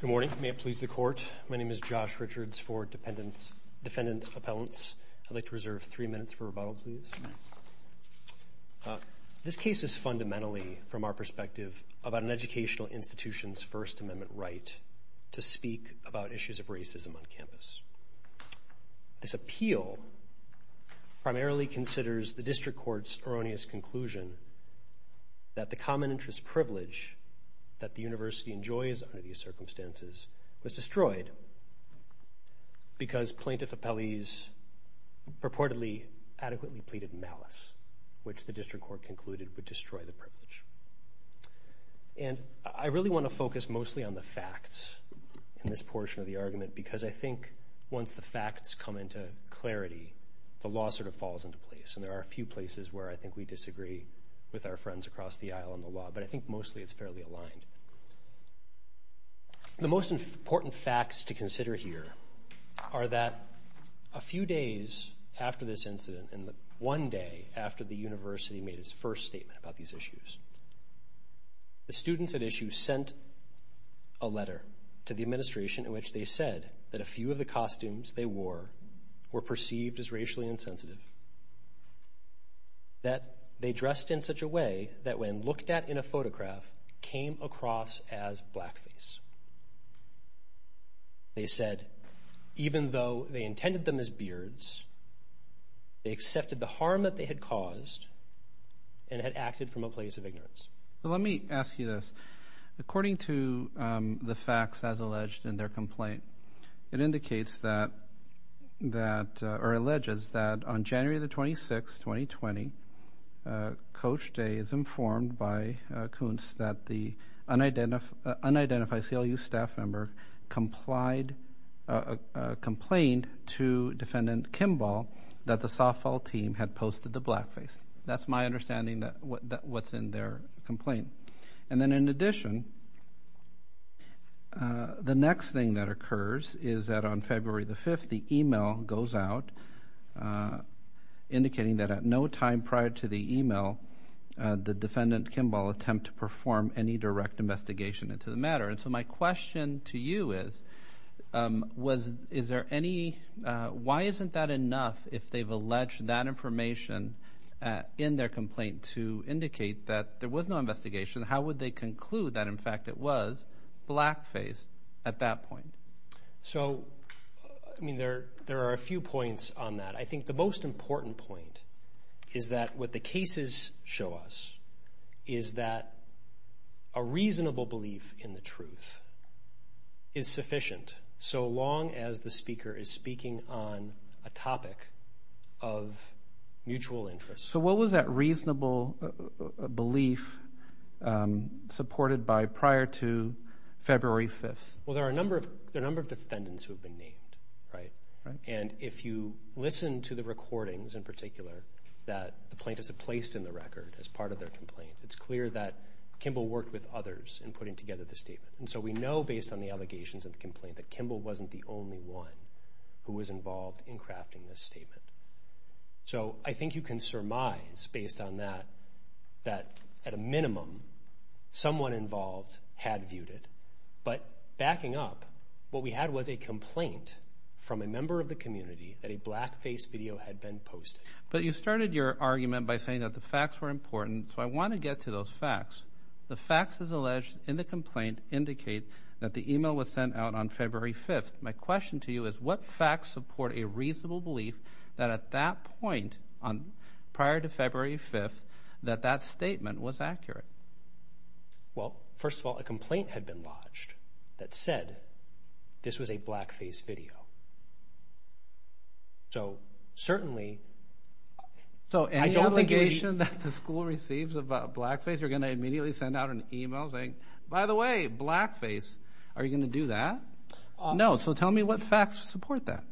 Good morning. May it please the Court. My name is Josh Richards for Defendants' Appellants. I'd like to reserve three minutes for rebuttal, please. This case is fundamentally, from our perspective, about an educational institution's First Amendment right to speak about issues of racism on campus. This appeal primarily considers the District Court's erroneous conclusion that the common interest privilege that the university enjoys under these circumstances was destroyed because plaintiff appellees purportedly adequately pleaded malice, which the District Court concluded would destroy the privilege. And I really want to focus mostly on the facts in this portion of the argument because I think once the facts come into clarity, the law sort of falls into place. And there are a few places where I think we disagree with our friends across the aisle on the law, but I think mostly it's fairly aligned. The most important facts to consider here are that a few days after this incident and one day after the university made its first statement about these issues, the students at issue sent a letter to the administration in which they said that a few of the costumes they wore were perceived as racially insensitive, that they dressed in such a way that when looked at in a photograph came across as blackface. They said even though they intended them as beards, they accepted the harm that they had caused and had acted from a place of ignorance. So let me ask you this. According to the facts as alleged in their complaint, it indicates that or alleges that on January 26, 2020, Coach Day is informed by Kuntz that the unidentified CLU staff member complained to Defendant Kimball that the softball team had posted the blackface. That's my understanding of what's in their complaint. And then in addition, the next thing that occurs is that on February 5, the email goes out indicating that at no time prior to the email, the Defendant Kimball attempted to perform any direct investigation into the matter. So my question to you is why isn't that enough if they've alleged that information in their complaint to indicate that there was no investigation? How would they conclude that, in fact, it was blackface at that point? So, I mean, there are a few points on that. I think the most important point is that what the cases show us is that a reasonable belief in the truth is sufficient so long as the speaker is speaking on a topic of mutual interest. So what was that reasonable belief supported by prior to February 5? Well, there are a number of defendants who have been named, right? And if you listen to the recordings, in particular, that the plaintiffs have placed in the record as part of their complaint, it's clear that Kimball worked with others in putting together the statement. And so we know, based on the allegations of the complaint, that Kimball wasn't the only one who was involved in crafting this statement. So I think you can surmise, based on that, that at a minimum someone involved had viewed it. But backing up, what we had was a complaint from a member of the community that a blackface video had been posted. But you started your argument by saying that the facts were important, so I want to get to those facts. The facts, as alleged in the complaint, indicate that the email was sent out on February 5. My question to you is what facts support a reasonable belief that at that point, prior to February 5, that that statement was accurate? Well, first of all, a complaint had been lodged that said this was a blackface video. So certainly, I don't think we... So any allegation that the school receives about blackface, you're going to immediately send out an email saying, by the way, blackface, are you going to do that? No. So tell me what facts support that.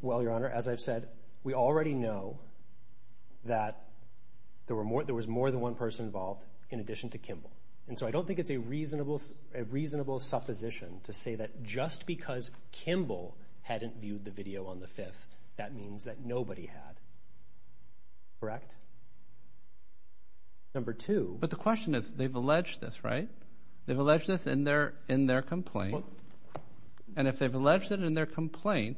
Well, Your Honor, as I've said, we already know that there was more than one person involved in addition to Kimball. And so I don't think it's a reasonable supposition to say that just because Kimball hadn't viewed the video on the 5th, that means that nobody had. Correct? Correct. Number two. But the question is, they've alleged this, right? They've alleged this in their complaint. And if they've alleged it in their complaint,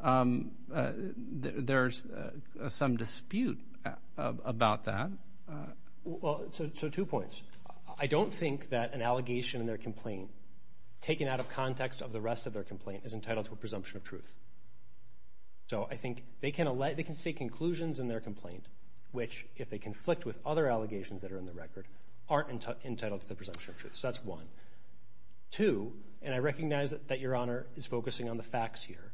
there's some dispute about that. So two points. I don't think that an allegation in their complaint, taken out of context of the rest of their complaint, is entitled to a presumption of truth. So I think they can state conclusions in their complaint, which, if they conflict with other allegations that are in the record, aren't entitled to the presumption of truth. So that's one. Two, and I recognize that Your Honor is focusing on the facts here,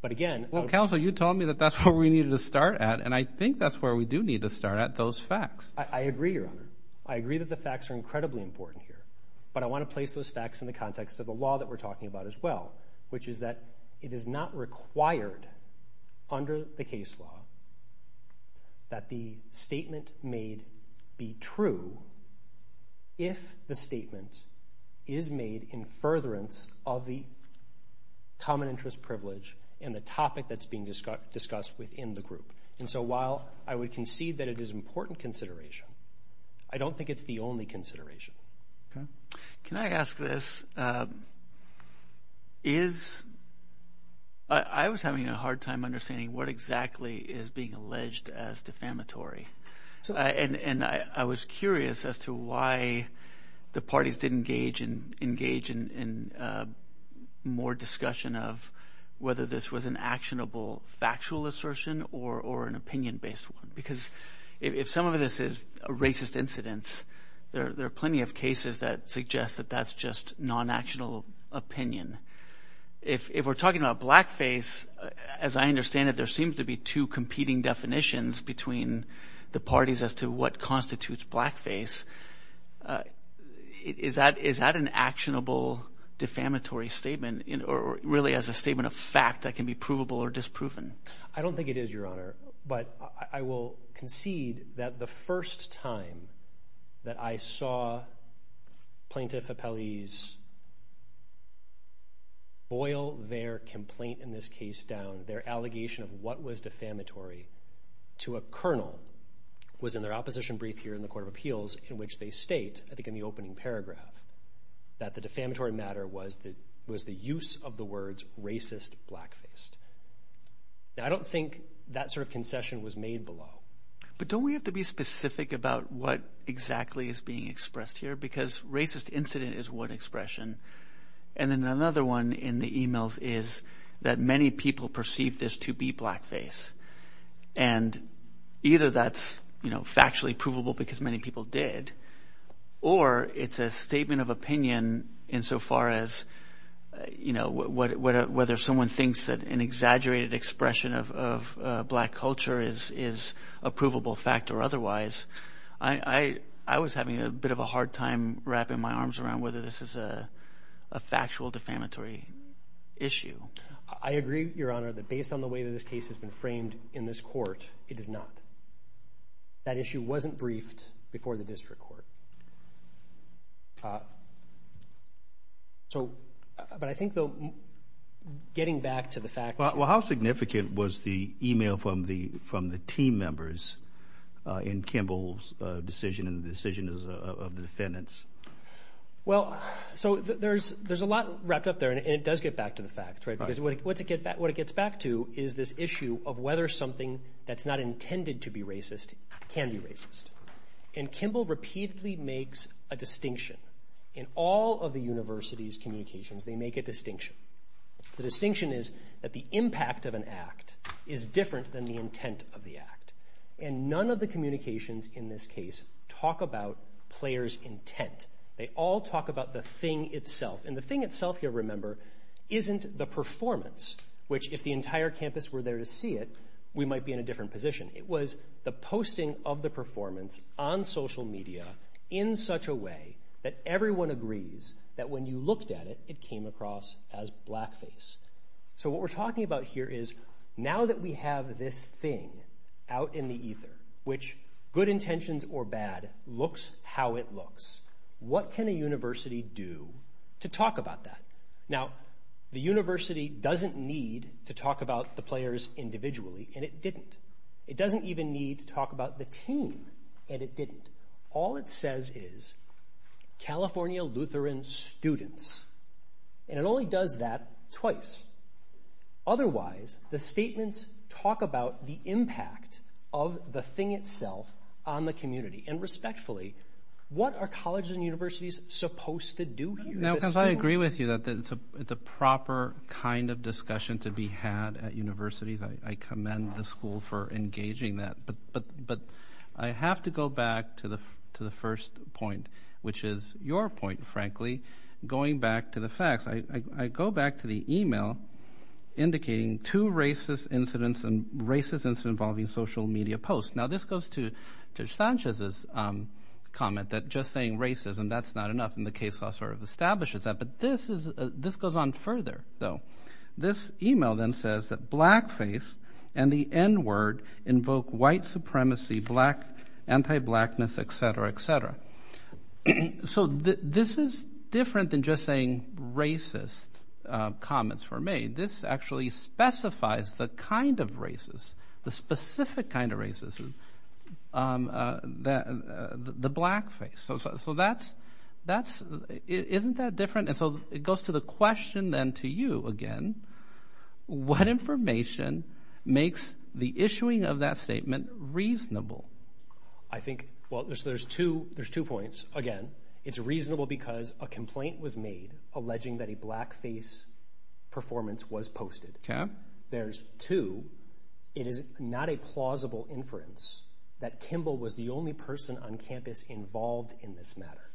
but again, Well, counsel, you told me that that's where we needed to start at, and I think that's where we do need to start at, those facts. I agree, Your Honor. I agree that the facts are incredibly important here. But I want to place those facts in the context of the law that we're talking about as well, which is that it is not required under the case law that the statement made be true if the statement is made in furtherance of the common interest privilege and the topic that's being discussed within the group. And so while I would concede that it is an important consideration, I don't think it's the only consideration. Can I ask this? I was having a hard time understanding what exactly is being alleged as defamatory. And I was curious as to why the parties didn't engage in more discussion of whether this was an actionable, factual assertion or an opinion-based one. Because if some of this is a racist incident, there are plenty of cases that suggest that that's just non-actionable opinion. If we're talking about blackface, as I understand it, there seems to be two competing definitions between the parties as to what constitutes blackface. Is that an actionable, defamatory statement, or really as a statement of fact that can be provable or disproven? I don't think it is, Your Honor. But I will concede that the first time that I saw plaintiff appellees boil their complaint in this case down, their allegation of what was defamatory to a colonel was in their opposition brief here in the Court of Appeals in which they state, I think in the opening paragraph, that the defamatory matter was the use of the words racist blackface. Now, I don't think that sort of concession was made below. But don't we have to be specific about what exactly is being expressed here? Because racist incident is one expression, and then another one in the emails is that many people perceive this to be blackface. And either that's factually provable because many people did, or it's a statement of opinion insofar as, you know, whether someone thinks that an exaggerated expression of black culture is a provable fact or otherwise. I was having a bit of a hard time wrapping my arms around whether this is a factual defamatory issue. I agree, Your Honor, that based on the way that this case has been framed in this court, it is not. That issue wasn't briefed before the district court. So, but I think, though, getting back to the facts. Well, how significant was the email from the team members in Kimball's decision and the decision of the defendants? Well, so there's a lot wrapped up there, and it does get back to the facts, right? Because what it gets back to is this issue of whether something that's not intended to be racist can be racist. And Kimball repeatedly makes a distinction. In all of the university's communications, they make a distinction. The distinction is that the impact of an act is different than the intent of the act. And none of the communications in this case talk about players' intent. They all talk about the thing itself. And the thing itself, you'll remember, isn't the performance, which if the entire campus were there to see it, we might be in a different position. It was the posting of the performance on social media in such a way that everyone agrees that when you looked at it, it came across as blackface. So what we're talking about here is now that we have this thing out in the ether, which, good intentions or bad, looks how it looks, what can a university do to talk about that? Now, the university doesn't need to talk about the players individually, and it didn't. It doesn't even need to talk about the team, and it didn't. All it says is, California Lutheran students. And it only does that twice. Otherwise, the statements talk about the impact of the thing itself on the community. And respectfully, what are colleges and universities supposed to do here? Now, because I agree with you that it's a proper kind of discussion to be had at universities. I commend the school for engaging that. But I have to go back to the first point, which is your point, frankly, going back to the facts. I go back to the email indicating two racist incidents and racist incidents involving social media posts. Now, this goes to Sanchez's comment that just saying racism, that's not enough, and the case law sort of establishes that. But this goes on further, though. This email then says that blackface and the n-word invoke white supremacy, anti-blackness, et cetera, et cetera. So this is different than just saying racist comments were made. This actually specifies the kind of racist, the specific kind of racist, the blackface. So that's – isn't that different? And so it goes to the question then to you again. What information makes the issuing of that statement reasonable? I think – well, there's two points. First, again, it's reasonable because a complaint was made alleging that a blackface performance was posted. There's two, it is not a plausible inference that Kimball was the only person on campus involved in this matter.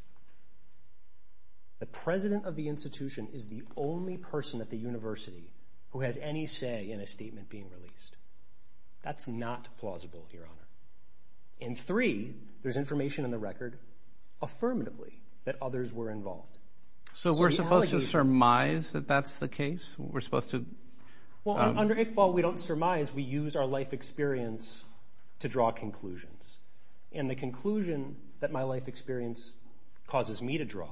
The president of the institution is the only person at the university who has any say in a statement being released. That's not plausible, Your Honor. And three, there's information in the record affirmatively that others were involved. So we're supposed to surmise that that's the case? We're supposed to – Well, under Iqbal, we don't surmise. We use our life experience to draw conclusions. And the conclusion that my life experience causes me to draw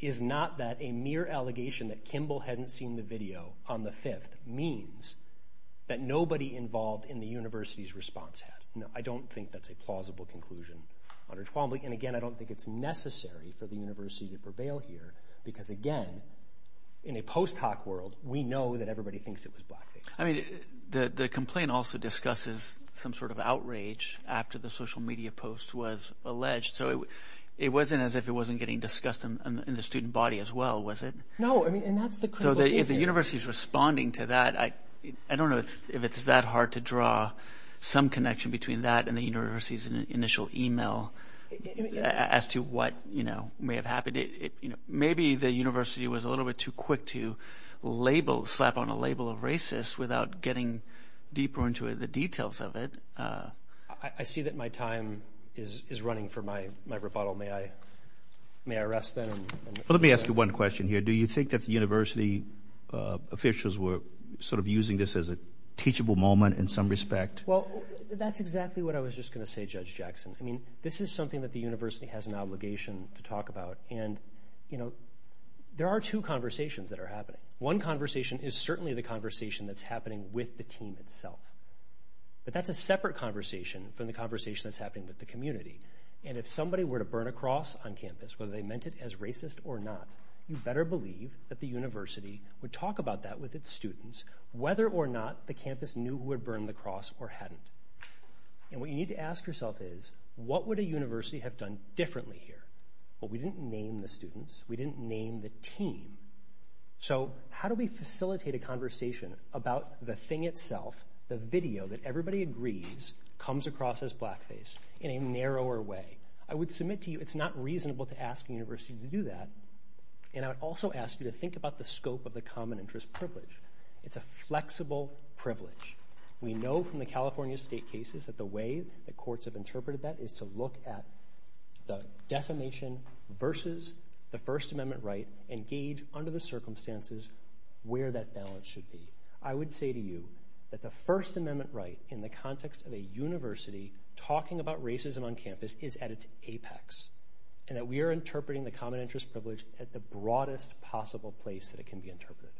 is not that a mere allegation that Kimball hadn't seen the video on the 5th means that nobody involved in the university's response had. I don't think that's a plausible conclusion, Your Honor. And again, I don't think it's necessary for the university to prevail here because, again, in a post-hoc world, we know that everybody thinks it was blackface. I mean the complaint also discusses some sort of outrage after the social media post was alleged. So it wasn't as if it wasn't getting discussed in the student body as well, was it? No, and that's the critical thing here. So if the university is responding to that, I don't know if it's that hard to draw some connection between that and the university's initial email as to what may have happened. Maybe the university was a little bit too quick to label – slap on a label of racist without getting deeper into the details of it. I see that my time is running for my rebuttal. May I rest then? Let me ask you one question here. Do you think that the university officials were sort of using this as a teachable moment in some respect? Well, that's exactly what I was just going to say, Judge Jackson. I mean this is something that the university has an obligation to talk about. And, you know, there are two conversations that are happening. One conversation is certainly the conversation that's happening with the team itself. But that's a separate conversation from the conversation that's happening with the community. And if somebody were to burn a cross on campus, whether they meant it as racist or not, you better believe that the university would talk about that with its students, whether or not the campus knew who had burned the cross or hadn't. And what you need to ask yourself is, what would a university have done differently here? Well, we didn't name the students. We didn't name the team. So how do we facilitate a conversation about the thing itself, the video that everybody agrees comes across as blackface in a narrower way? I would submit to you it's not reasonable to ask a university to do that. And I would also ask you to think about the scope of the common interest privilege. It's a flexible privilege. We know from the California state cases that the way the courts have interpreted that is to look at the defamation versus the First Amendment right and gauge under the circumstances where that balance should be. I would say to you that the First Amendment right in the context of a university talking about racism on campus is at its apex. And that we are interpreting the common interest privilege at the broadest possible place that it can be interpreted.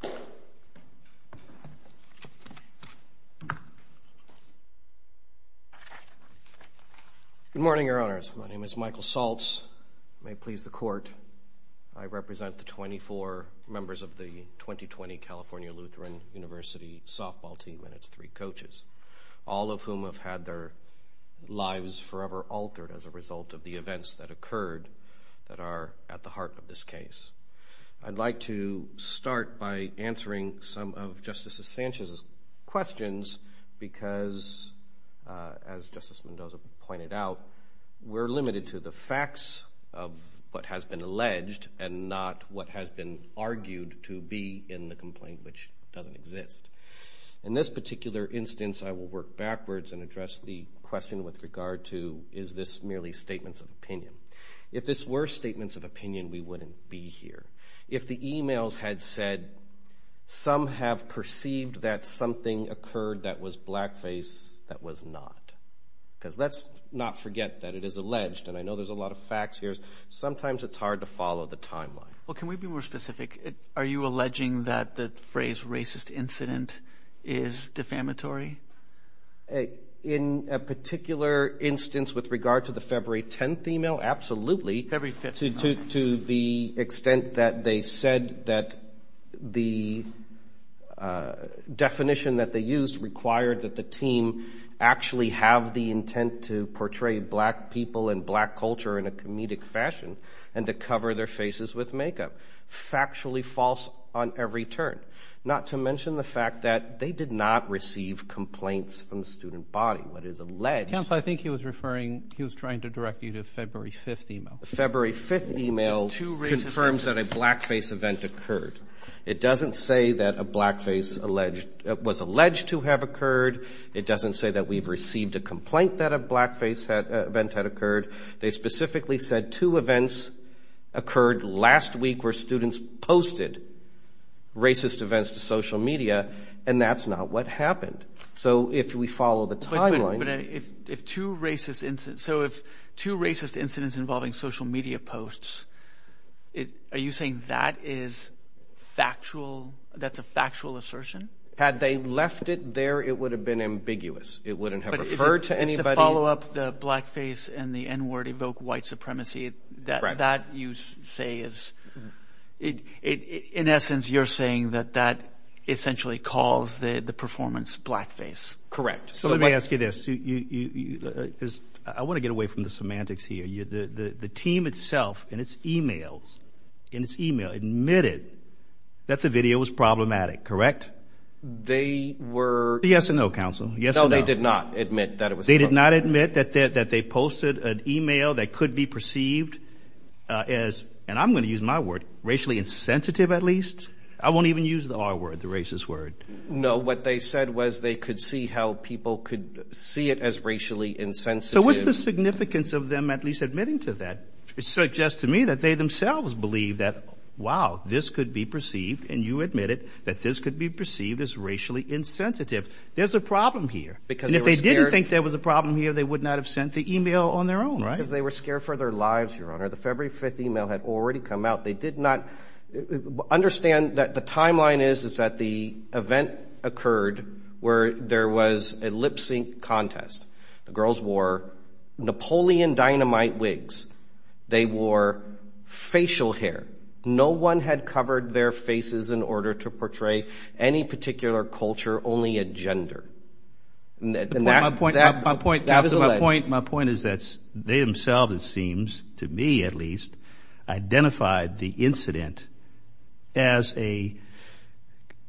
Good morning, Your Honors. My name is Michael Saltz. May it please the court, I represent the 24 members of the 2020 California Lutheran University softball team and its three coaches, all of whom have had their lives forever altered as a result of the events that occurred that are at the heart of this case. I'd like to start by answering some of Justice Sanchez's questions because, as Justice Mendoza pointed out, we're limited to the facts of what has been alleged and not what has been argued to be in the complaint which doesn't exist. In this particular instance, I will work backwards and address the question with regard to is this merely statements of opinion. If this were statements of opinion, we wouldn't be here. If the e-mails had said some have perceived that something occurred that was blackface, that was not. Because let's not forget that it is alleged, and I know there's a lot of facts here, sometimes it's hard to follow the timeline. Well, can we be more specific? Are you alleging that the phrase racist incident is defamatory? In a particular instance with regard to the February 10th e-mail, absolutely. February 5th. To the extent that they said that the definition that they used required that the team actually have the intent to portray black people and black culture in a comedic fashion and to cover their faces with makeup. Factually false on every turn. Not to mention the fact that they did not receive complaints from the student body. What is alleged. Counsel, I think he was referring, he was trying to direct you to February 5th e-mail. February 5th e-mail confirms that a blackface event occurred. It doesn't say that a blackface was alleged to have occurred. It doesn't say that we've received a complaint that a blackface event had occurred. They specifically said two events occurred last week where students posted racist events to social media and that's not what happened. So if we follow the timeline. But if two racist incidents, so if two racist incidents involving social media posts, are you saying that is factual, that's a factual assertion? Had they left it there, it would have been ambiguous. It wouldn't have referred to anybody. But it's a follow-up, the blackface and the N-word evoke white supremacy. That you say is, in essence, you're saying that that essentially calls the performance blackface. Correct. So let me ask you this. I want to get away from the semantics here. The team itself in its e-mails, in its e-mail, admitted that the video was problematic, correct? They were. Yes and no, counsel. No, they did not admit that it was. They did not admit that they posted an e-mail that could be perceived as, and I'm going to use my word, racially insensitive at least. I won't even use the R-word, the racist word. No, what they said was they could see how people could see it as racially insensitive. So what's the significance of them at least admitting to that? It suggests to me that they themselves believe that, wow, this could be perceived, and you admit it, that this could be perceived as racially insensitive. There's a problem here. Because they were scared. And if they didn't think there was a problem here, they would not have sent the e-mail on their own, right? Because they were scared for their lives, Your Honor. The February 5th e-mail had already come out. They did not understand that the timeline is that the event occurred where there was a lip-sync contest. The girls wore Napoleon Dynamite wigs. They wore facial hair. No one had covered their faces in order to portray any particular culture, only a gender. My point is that they themselves, it seems to me at least, identified the incident as an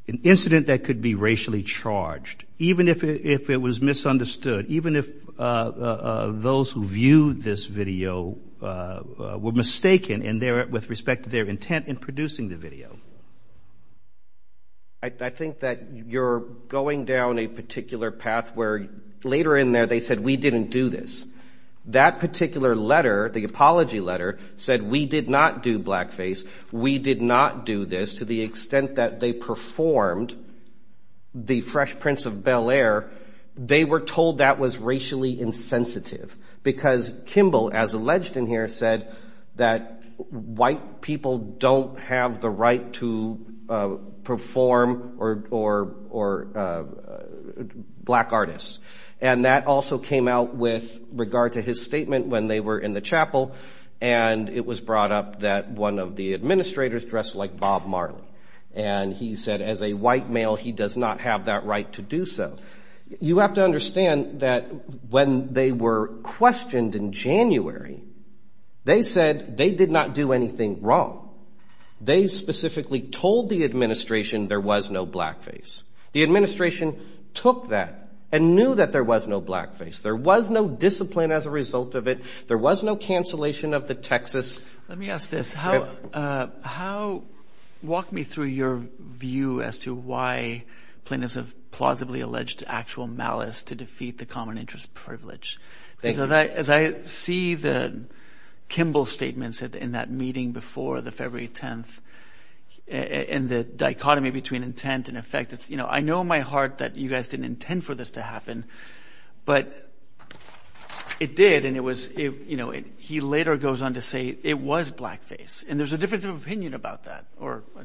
incident that could be racially charged, even if it was misunderstood, even if those who viewed this video were mistaken with respect to their intent in producing the video. I think that you're going down a particular path where later in there they said, we didn't do this. That particular letter, the apology letter, said we did not do blackface. We did not do this. To the extent that they performed the Fresh Prince of Bel-Air, they were told that was racially insensitive. Because Kimball, as alleged in here, said that white people don't have the right to perform or black artists. And that also came out with regard to his statement when they were in the chapel. And it was brought up that one of the administrators dressed like Bob Marley. And he said as a white male, he does not have that right to do so. You have to understand that when they were questioned in January, they said they did not do anything wrong. They specifically told the administration there was no blackface. The administration took that and knew that there was no blackface. There was no discipline as a result of it. There was no cancellation of the Texas. Let me ask this. Walk me through your view as to why plaintiffs have plausibly alleged actual malice to defeat the common interest privilege. As I see the Kimball statements in that meeting before the February 10th and the dichotomy between intent and effect. I know in my heart that you guys didn't intend for this to happen. But it did. He later goes on to say it was blackface. And there's a difference of opinion about that.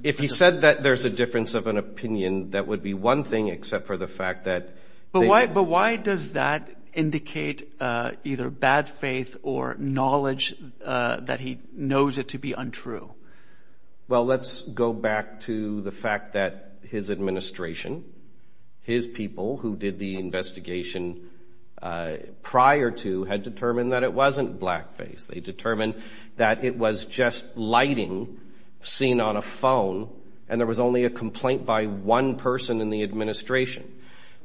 If he said that there's a difference of an opinion, that would be one thing except for the fact that. But why does that indicate either bad faith or knowledge that he knows it to be untrue? Well, let's go back to the fact that his administration, his people who did the investigation prior to had determined that it wasn't blackface. They determined that it was just lighting seen on a phone. And there was only a complaint by one person in the administration,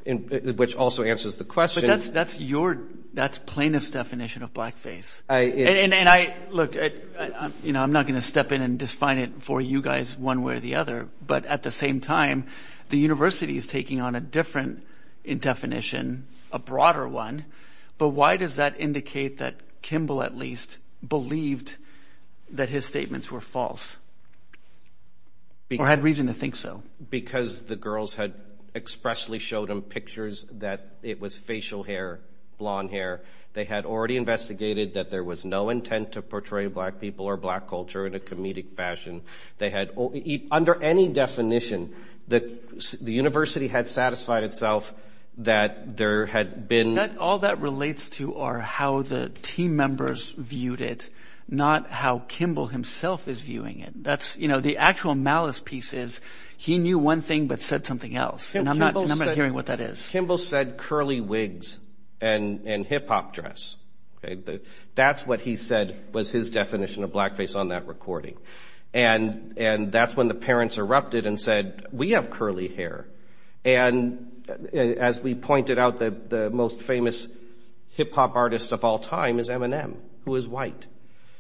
which also answers the question. But that's plaintiff's definition of blackface. And look, I'm not going to step in and define it for you guys one way or the other. But at the same time, the university is taking on a different definition, a broader one. But why does that indicate that Kimball at least believed that his statements were false or had reason to think so? Because the girls had expressly showed him pictures that it was facial hair, blonde hair. They had already investigated that there was no intent to portray black people or black culture in a comedic fashion. They had under any definition that the university had satisfied itself that there had been. All that relates to are how the team members viewed it, not how Kimball himself is viewing it. That's the actual malice pieces. He knew one thing but said something else. And I'm not hearing what that is. Kimball said curly wigs and hip hop dress. That's what he said was his definition of blackface on that recording. And that's when the parents erupted and said, we have curly hair. And as we pointed out, the most famous hip hop artist of all time is Eminem, who is white.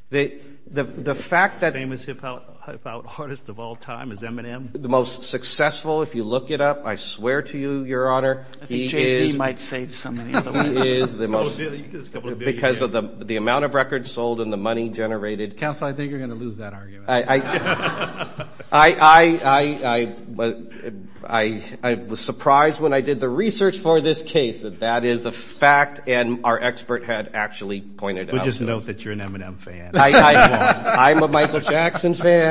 The most famous hip hop artist of all time is Eminem? The most successful, if you look it up, I swear to you, Your Honor. I think Jay-Z might say something else. Because of the amount of records sold and the money generated. Counselor, I think you're going to lose that argument. I was surprised when I did the research for this case that that is a fact and our expert had actually pointed out. We'll just note that you're an Eminem fan. I'm a Michael Jackson fan.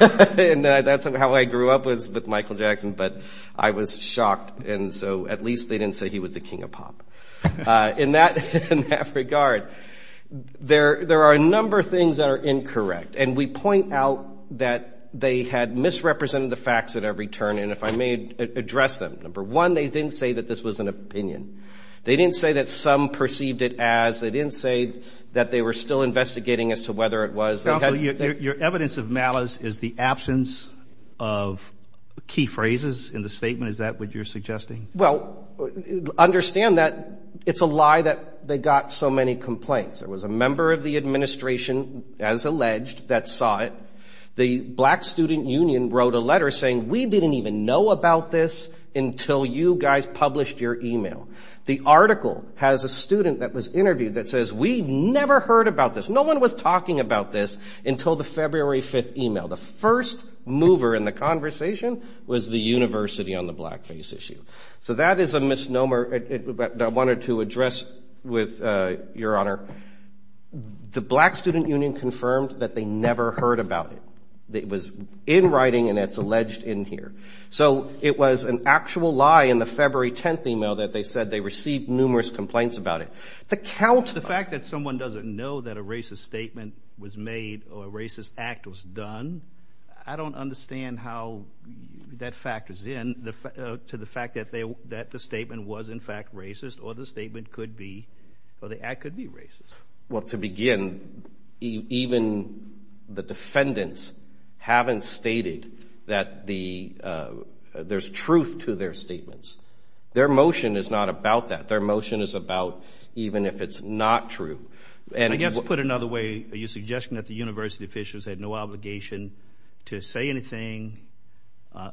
And that's how I grew up was with Michael Jackson. But I was shocked. And so at least they didn't say he was the king of pop. In that regard, there are a number of things that are incorrect. And we point out that they had misrepresented the facts at every turn. And if I may address them, number one, they didn't say that this was an opinion. They didn't say that some perceived it as. They didn't say that they were still investigating as to whether it was. Counselor, your evidence of malice is the absence of key phrases in the statement. Is that what you're suggesting? Well, understand that it's a lie that they got so many complaints. There was a member of the administration, as alleged, that saw it. The Black Student Union wrote a letter saying we didn't even know about this until you guys published your e-mail. The article has a student that was interviewed that says we never heard about this. No one was talking about this until the February 5th e-mail. The first mover in the conversation was the university on the blackface issue. So that is a misnomer that I wanted to address with your honor. The Black Student Union confirmed that they never heard about it. It was in writing and it's alleged in here. So it was an actual lie in the February 10th e-mail that they said they received numerous complaints about it. The fact that someone doesn't know that a racist statement was made or a racist act was done, I don't understand how that factors in to the fact that the statement was in fact racist or the statement could be or the act could be racist. Well, to begin, even the defendants haven't stated that there's truth to their statements. Their motion is not about that. Their motion is about even if it's not true. And I guess to put it another way, are you suggesting that the university officials had no obligation to say anything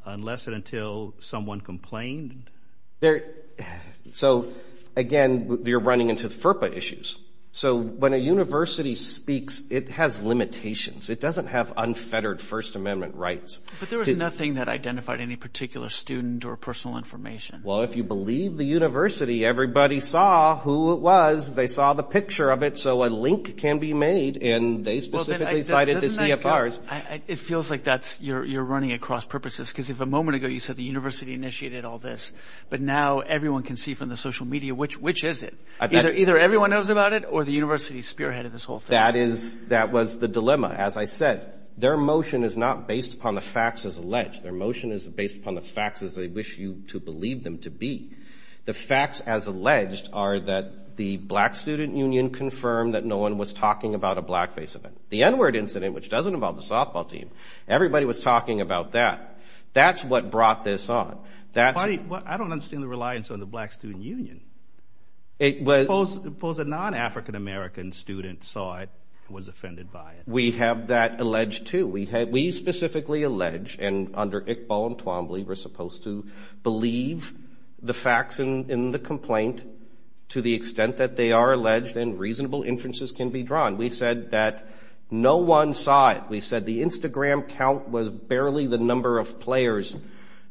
unless and until someone complained? So, again, you're running into FERPA issues. So when a university speaks, it has limitations. It doesn't have unfettered First Amendment rights. But there was nothing that identified any particular student or personal information. Well, if you believe the university, everybody saw who it was. They saw the picture of it. So a link can be made. And they specifically cited the CFRs. It feels like you're running across purposes because if a moment ago you said the university initiated all this, but now everyone can see from the social media, which is it? Either everyone knows about it or the university spearheaded this whole thing. That was the dilemma. As I said, their motion is not based upon the facts as alleged. Their motion is based upon the facts as they wish you to believe them to be. The facts as alleged are that the Black Student Union confirmed that no one was talking about a blackface event. The N-Word incident, which doesn't involve the softball team, everybody was talking about that. That's what brought this on. I don't understand the reliance on the Black Student Union. Suppose a non-African American student saw it and was offended by it. We have that alleged, too. We specifically allege, and under Iqbal and Twombly we're supposed to believe the facts in the complaint to the extent that they are alleged and reasonable inferences can be drawn. We said that no one saw it. We said the Instagram count was barely the number of players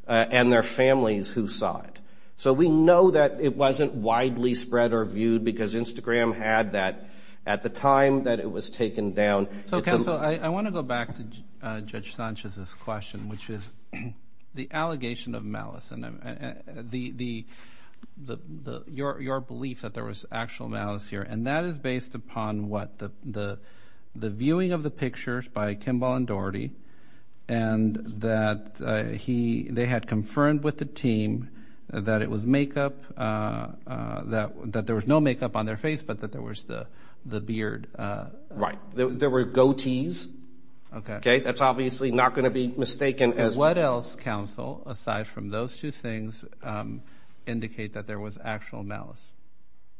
and their families who saw it. So we know that it wasn't widely spread or viewed because Instagram had that at the time that it was taken down. Counsel, I want to go back to Judge Sanchez's question, which is the allegation of malice and your belief that there was actual malice here, and that is based upon what? The viewing of the pictures by Iqbal and Doherty and that they had confirmed with the team that it was makeup, that there was no makeup on their face, but that there was the beard. Right. There were goatees. Okay. That's obviously not going to be mistaken. What else, Counsel, aside from those two things, indicate that there was actual malice?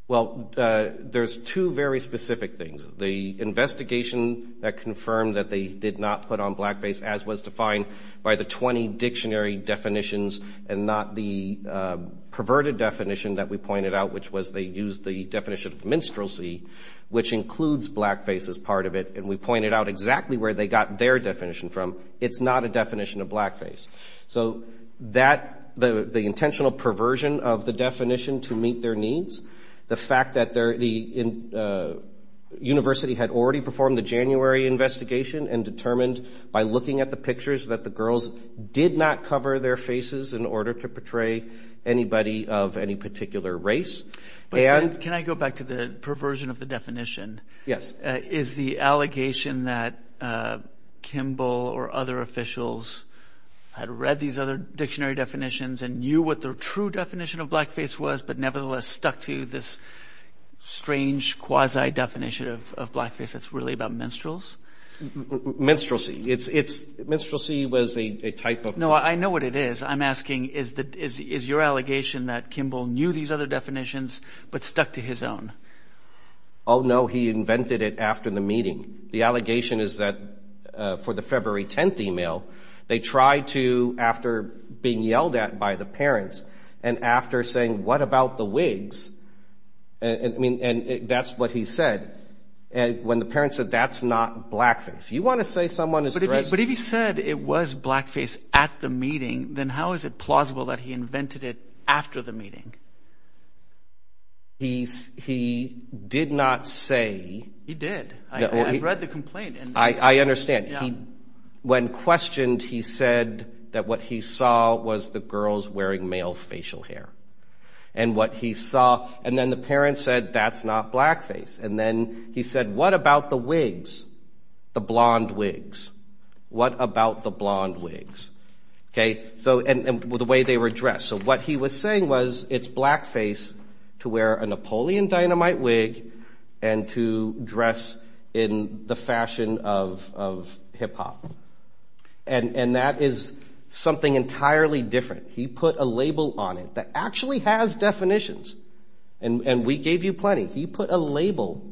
Well, there's two very specific things. The investigation that confirmed that they did not put on blackface, as was defined by the 20 dictionary definitions and not the perverted definition that we pointed out, which was they used the definition of minstrelsy, which includes blackface as part of it, and we pointed out exactly where they got their definition from. It's not a definition of blackface. So the intentional perversion of the definition to meet their needs, the fact that the university had already performed the January investigation and determined by looking at the pictures that the girls did not cover their faces in order to portray anybody of any particular race. But can I go back to the perversion of the definition? Yes. Is the allegation that Kimball or other officials had read these other dictionary definitions and knew what their true definition of blackface was but nevertheless stuck to this strange quasi-definition of blackface that's really about minstrels? Minstrelsy. Minstrelsy was a type of minstrelsy. No, I know what it is. I'm asking is your allegation that Kimball knew these other definitions but stuck to his own? Oh, no. He invented it after the meeting. The allegation is that for the February 10th email, they tried to, after being yelled at by the parents and after saying, what about the wigs? I mean, that's what he said. When the parents said, that's not blackface. You want to say someone is dressing up? If it was blackface at the meeting, then how is it plausible that he invented it after the meeting? He did not say. He did. I've read the complaint. I understand. When questioned, he said that what he saw was the girls wearing male facial hair. And what he saw. And then the parents said, that's not blackface. And then he said, what about the wigs? The blonde wigs. What about the blonde wigs? And the way they were dressed. So what he was saying was, it's blackface to wear a Napoleon Dynamite wig and to dress in the fashion of hip hop. And that is something entirely different. He put a label on it that actually has definitions. And we gave you plenty. He put a label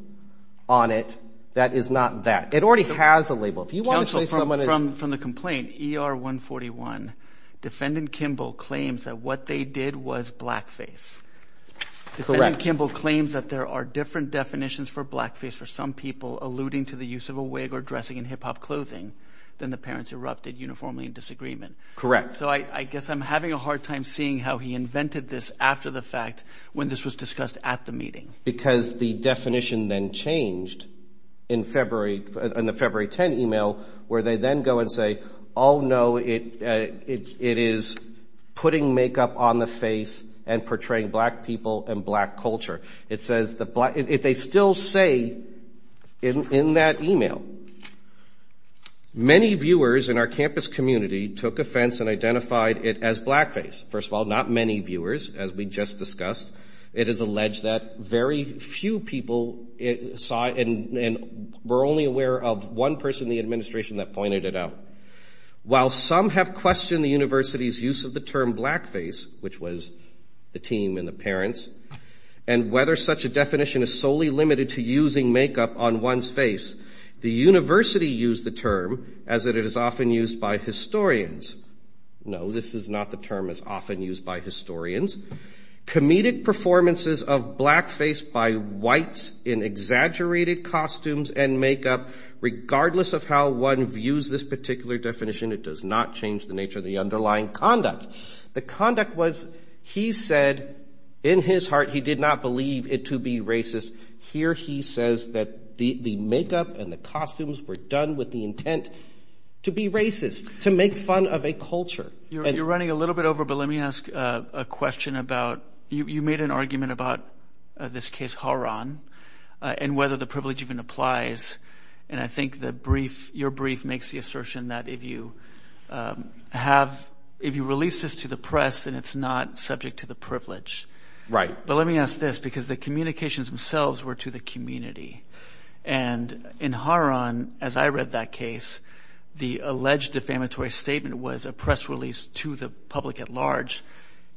on it that is not that. It already has a label. If you want to say someone is. Counsel, from the complaint, ER 141, Defendant Kimball claims that what they did was blackface. Correct. Defendant Kimball claims that there are different definitions for blackface for some people alluding to the use of a wig or dressing in hip hop clothing than the parents erupted uniformly in disagreement. Correct. So I guess I'm having a hard time seeing how he invented this after the fact when this was discussed at the meeting. Because the definition then changed in the February 10 email where they then go and say, oh, no, it is putting makeup on the face and portraying black people and black culture. It says that if they still say in that email, many viewers in our campus community took offense and identified it as blackface. First of all, not many viewers, as we just discussed. It is alleged that very few people saw it and were only aware of one person in the administration that pointed it out. While some have questioned the university's use of the term blackface, which was the team and the parents, and whether such a definition is solely limited to using makeup on one's face, the university used the term as it is often used by historians. No, this is not the term as often used by historians. Comedic performances of blackface by whites in exaggerated costumes and makeup, regardless of how one views this particular definition, it does not change the nature of the underlying conduct. The conduct was he said in his heart he did not believe it to be racist. Here he says that the makeup and the costumes were done with the intent to be racist, to make fun of a culture. You're running a little bit over, but let me ask a question about you made an argument about this case, Haron, and whether the privilege even applies. And I think the brief your brief makes the assertion that if you have if you release this to the press and it's not subject to the privilege. Right. But let me ask this, because the communications themselves were to the community. And in Haron, as I read that case, the alleged defamatory statement was a press release to the public at large.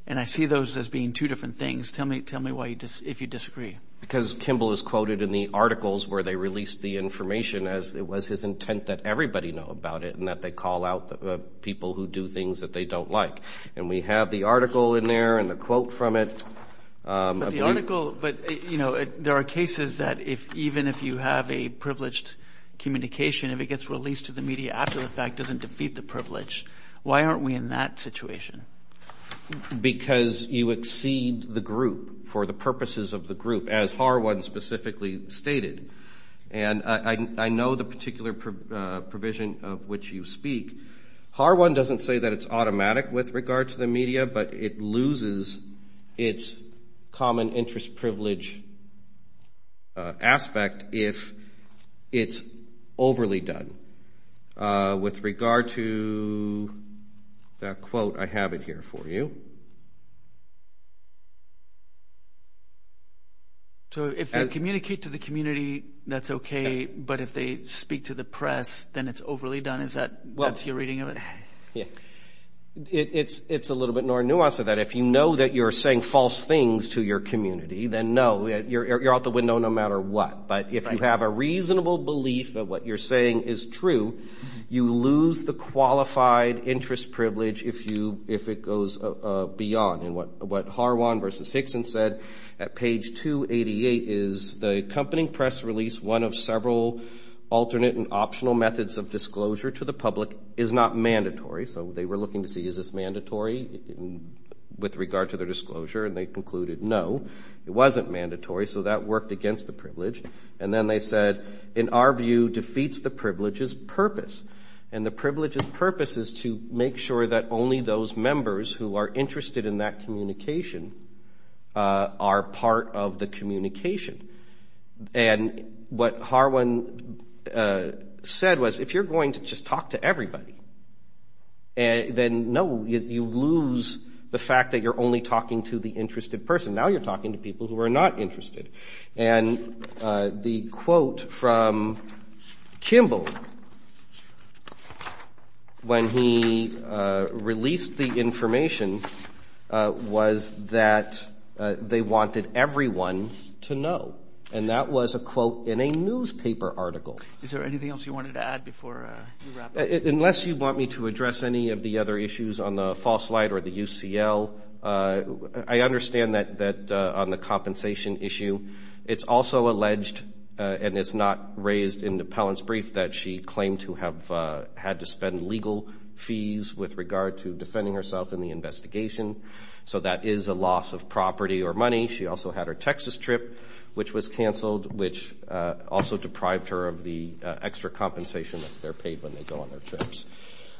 And I see those as being two different things. Tell me. Tell me why. If you disagree. Because Kimball is quoted in the articles where they released the information as it was his intent that everybody know about it and that they call out people who do things that they don't like. And we have the article in there and the quote from it. But the article. But, you know, there are cases that if even if you have a privileged communication, if it gets released to the media after the fact, doesn't defeat the privilege. Why aren't we in that situation? Because you exceed the group for the purposes of the group, as Harwin specifically stated. And I know the particular provision of which you speak. Harwin doesn't say that it's automatic with regard to the media, but it loses its common interest privilege aspect if it's overly done. With regard to that quote, I have it here for you. So if you communicate to the community, that's OK. But if they speak to the press, then it's overly done. Is that what you're reading of it? Yeah, it's it's a little bit more nuanced than that. If you know that you're saying false things to your community, then know that you're out the window no matter what. But if you have a reasonable belief that what you're saying is true, you lose the qualified interest privilege if you if it goes beyond. And what what Harwin versus Hickson said at page 288 is the accompanying press release. One of several alternate and optional methods of disclosure to the public is not mandatory. So they were looking to see, is this mandatory with regard to their disclosure? And they concluded, no, it wasn't mandatory. So that worked against the privilege. And then they said, in our view, defeats the privileges purpose. And the privileges purpose is to make sure that only those members who are interested in that communication are part of the communication. And what Harwin said was, if you're going to just talk to everybody. And then, no, you lose the fact that you're only talking to the interested person. Now you're talking to people who are not interested. And the quote from Kimball. When he released the information was that they wanted everyone to know, and that was a quote in a newspaper article. Is there anything else you wanted to add before you wrap it up? Unless you want me to address any of the other issues on the false light or the UCL. I understand that on the compensation issue, it's also alleged, and it's not raised in the appellant's brief, that she claimed to have had to spend legal fees with regard to defending herself in the investigation. So that is a loss of property or money. She also had her Texas trip, which was canceled, which also deprived her of the extra compensation that they're paid when they go on their trips.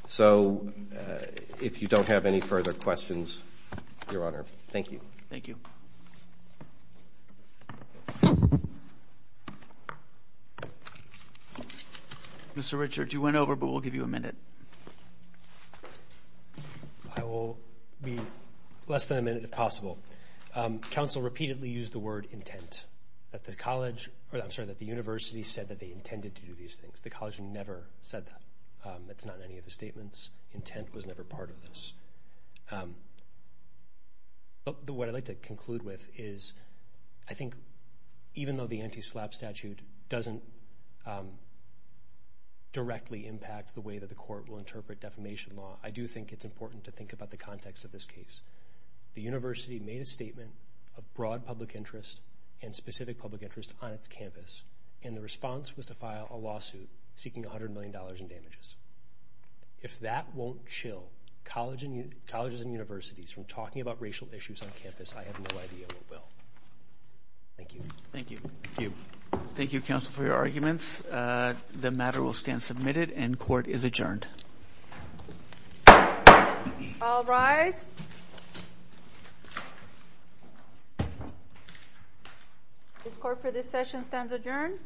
So if you don't have any further questions, Your Honor, thank you. Thank you. Mr. Richards, you went over, but we'll give you a minute. I will be less than a minute, if possible. Counsel repeatedly used the word intent, that the university said that they intended to do these things. The college never said that. That's not in any of the statements. Intent was never part of this. What I'd like to conclude with is I think even though the anti-SLAPP statute doesn't directly impact the way that the court will interpret defamation law, I do think it's important to think about the context of this case. The university made a statement of broad public interest and specific public interest on its campus, and the response was to file a lawsuit seeking $100 million in damages. If that won't chill colleges and universities from talking about racial issues on campus, I have no idea what will. Thank you. Thank you. Thank you, counsel, for your arguments. The matter will stand submitted and court is adjourned. All rise. All rise. This court for this session stands adjourned.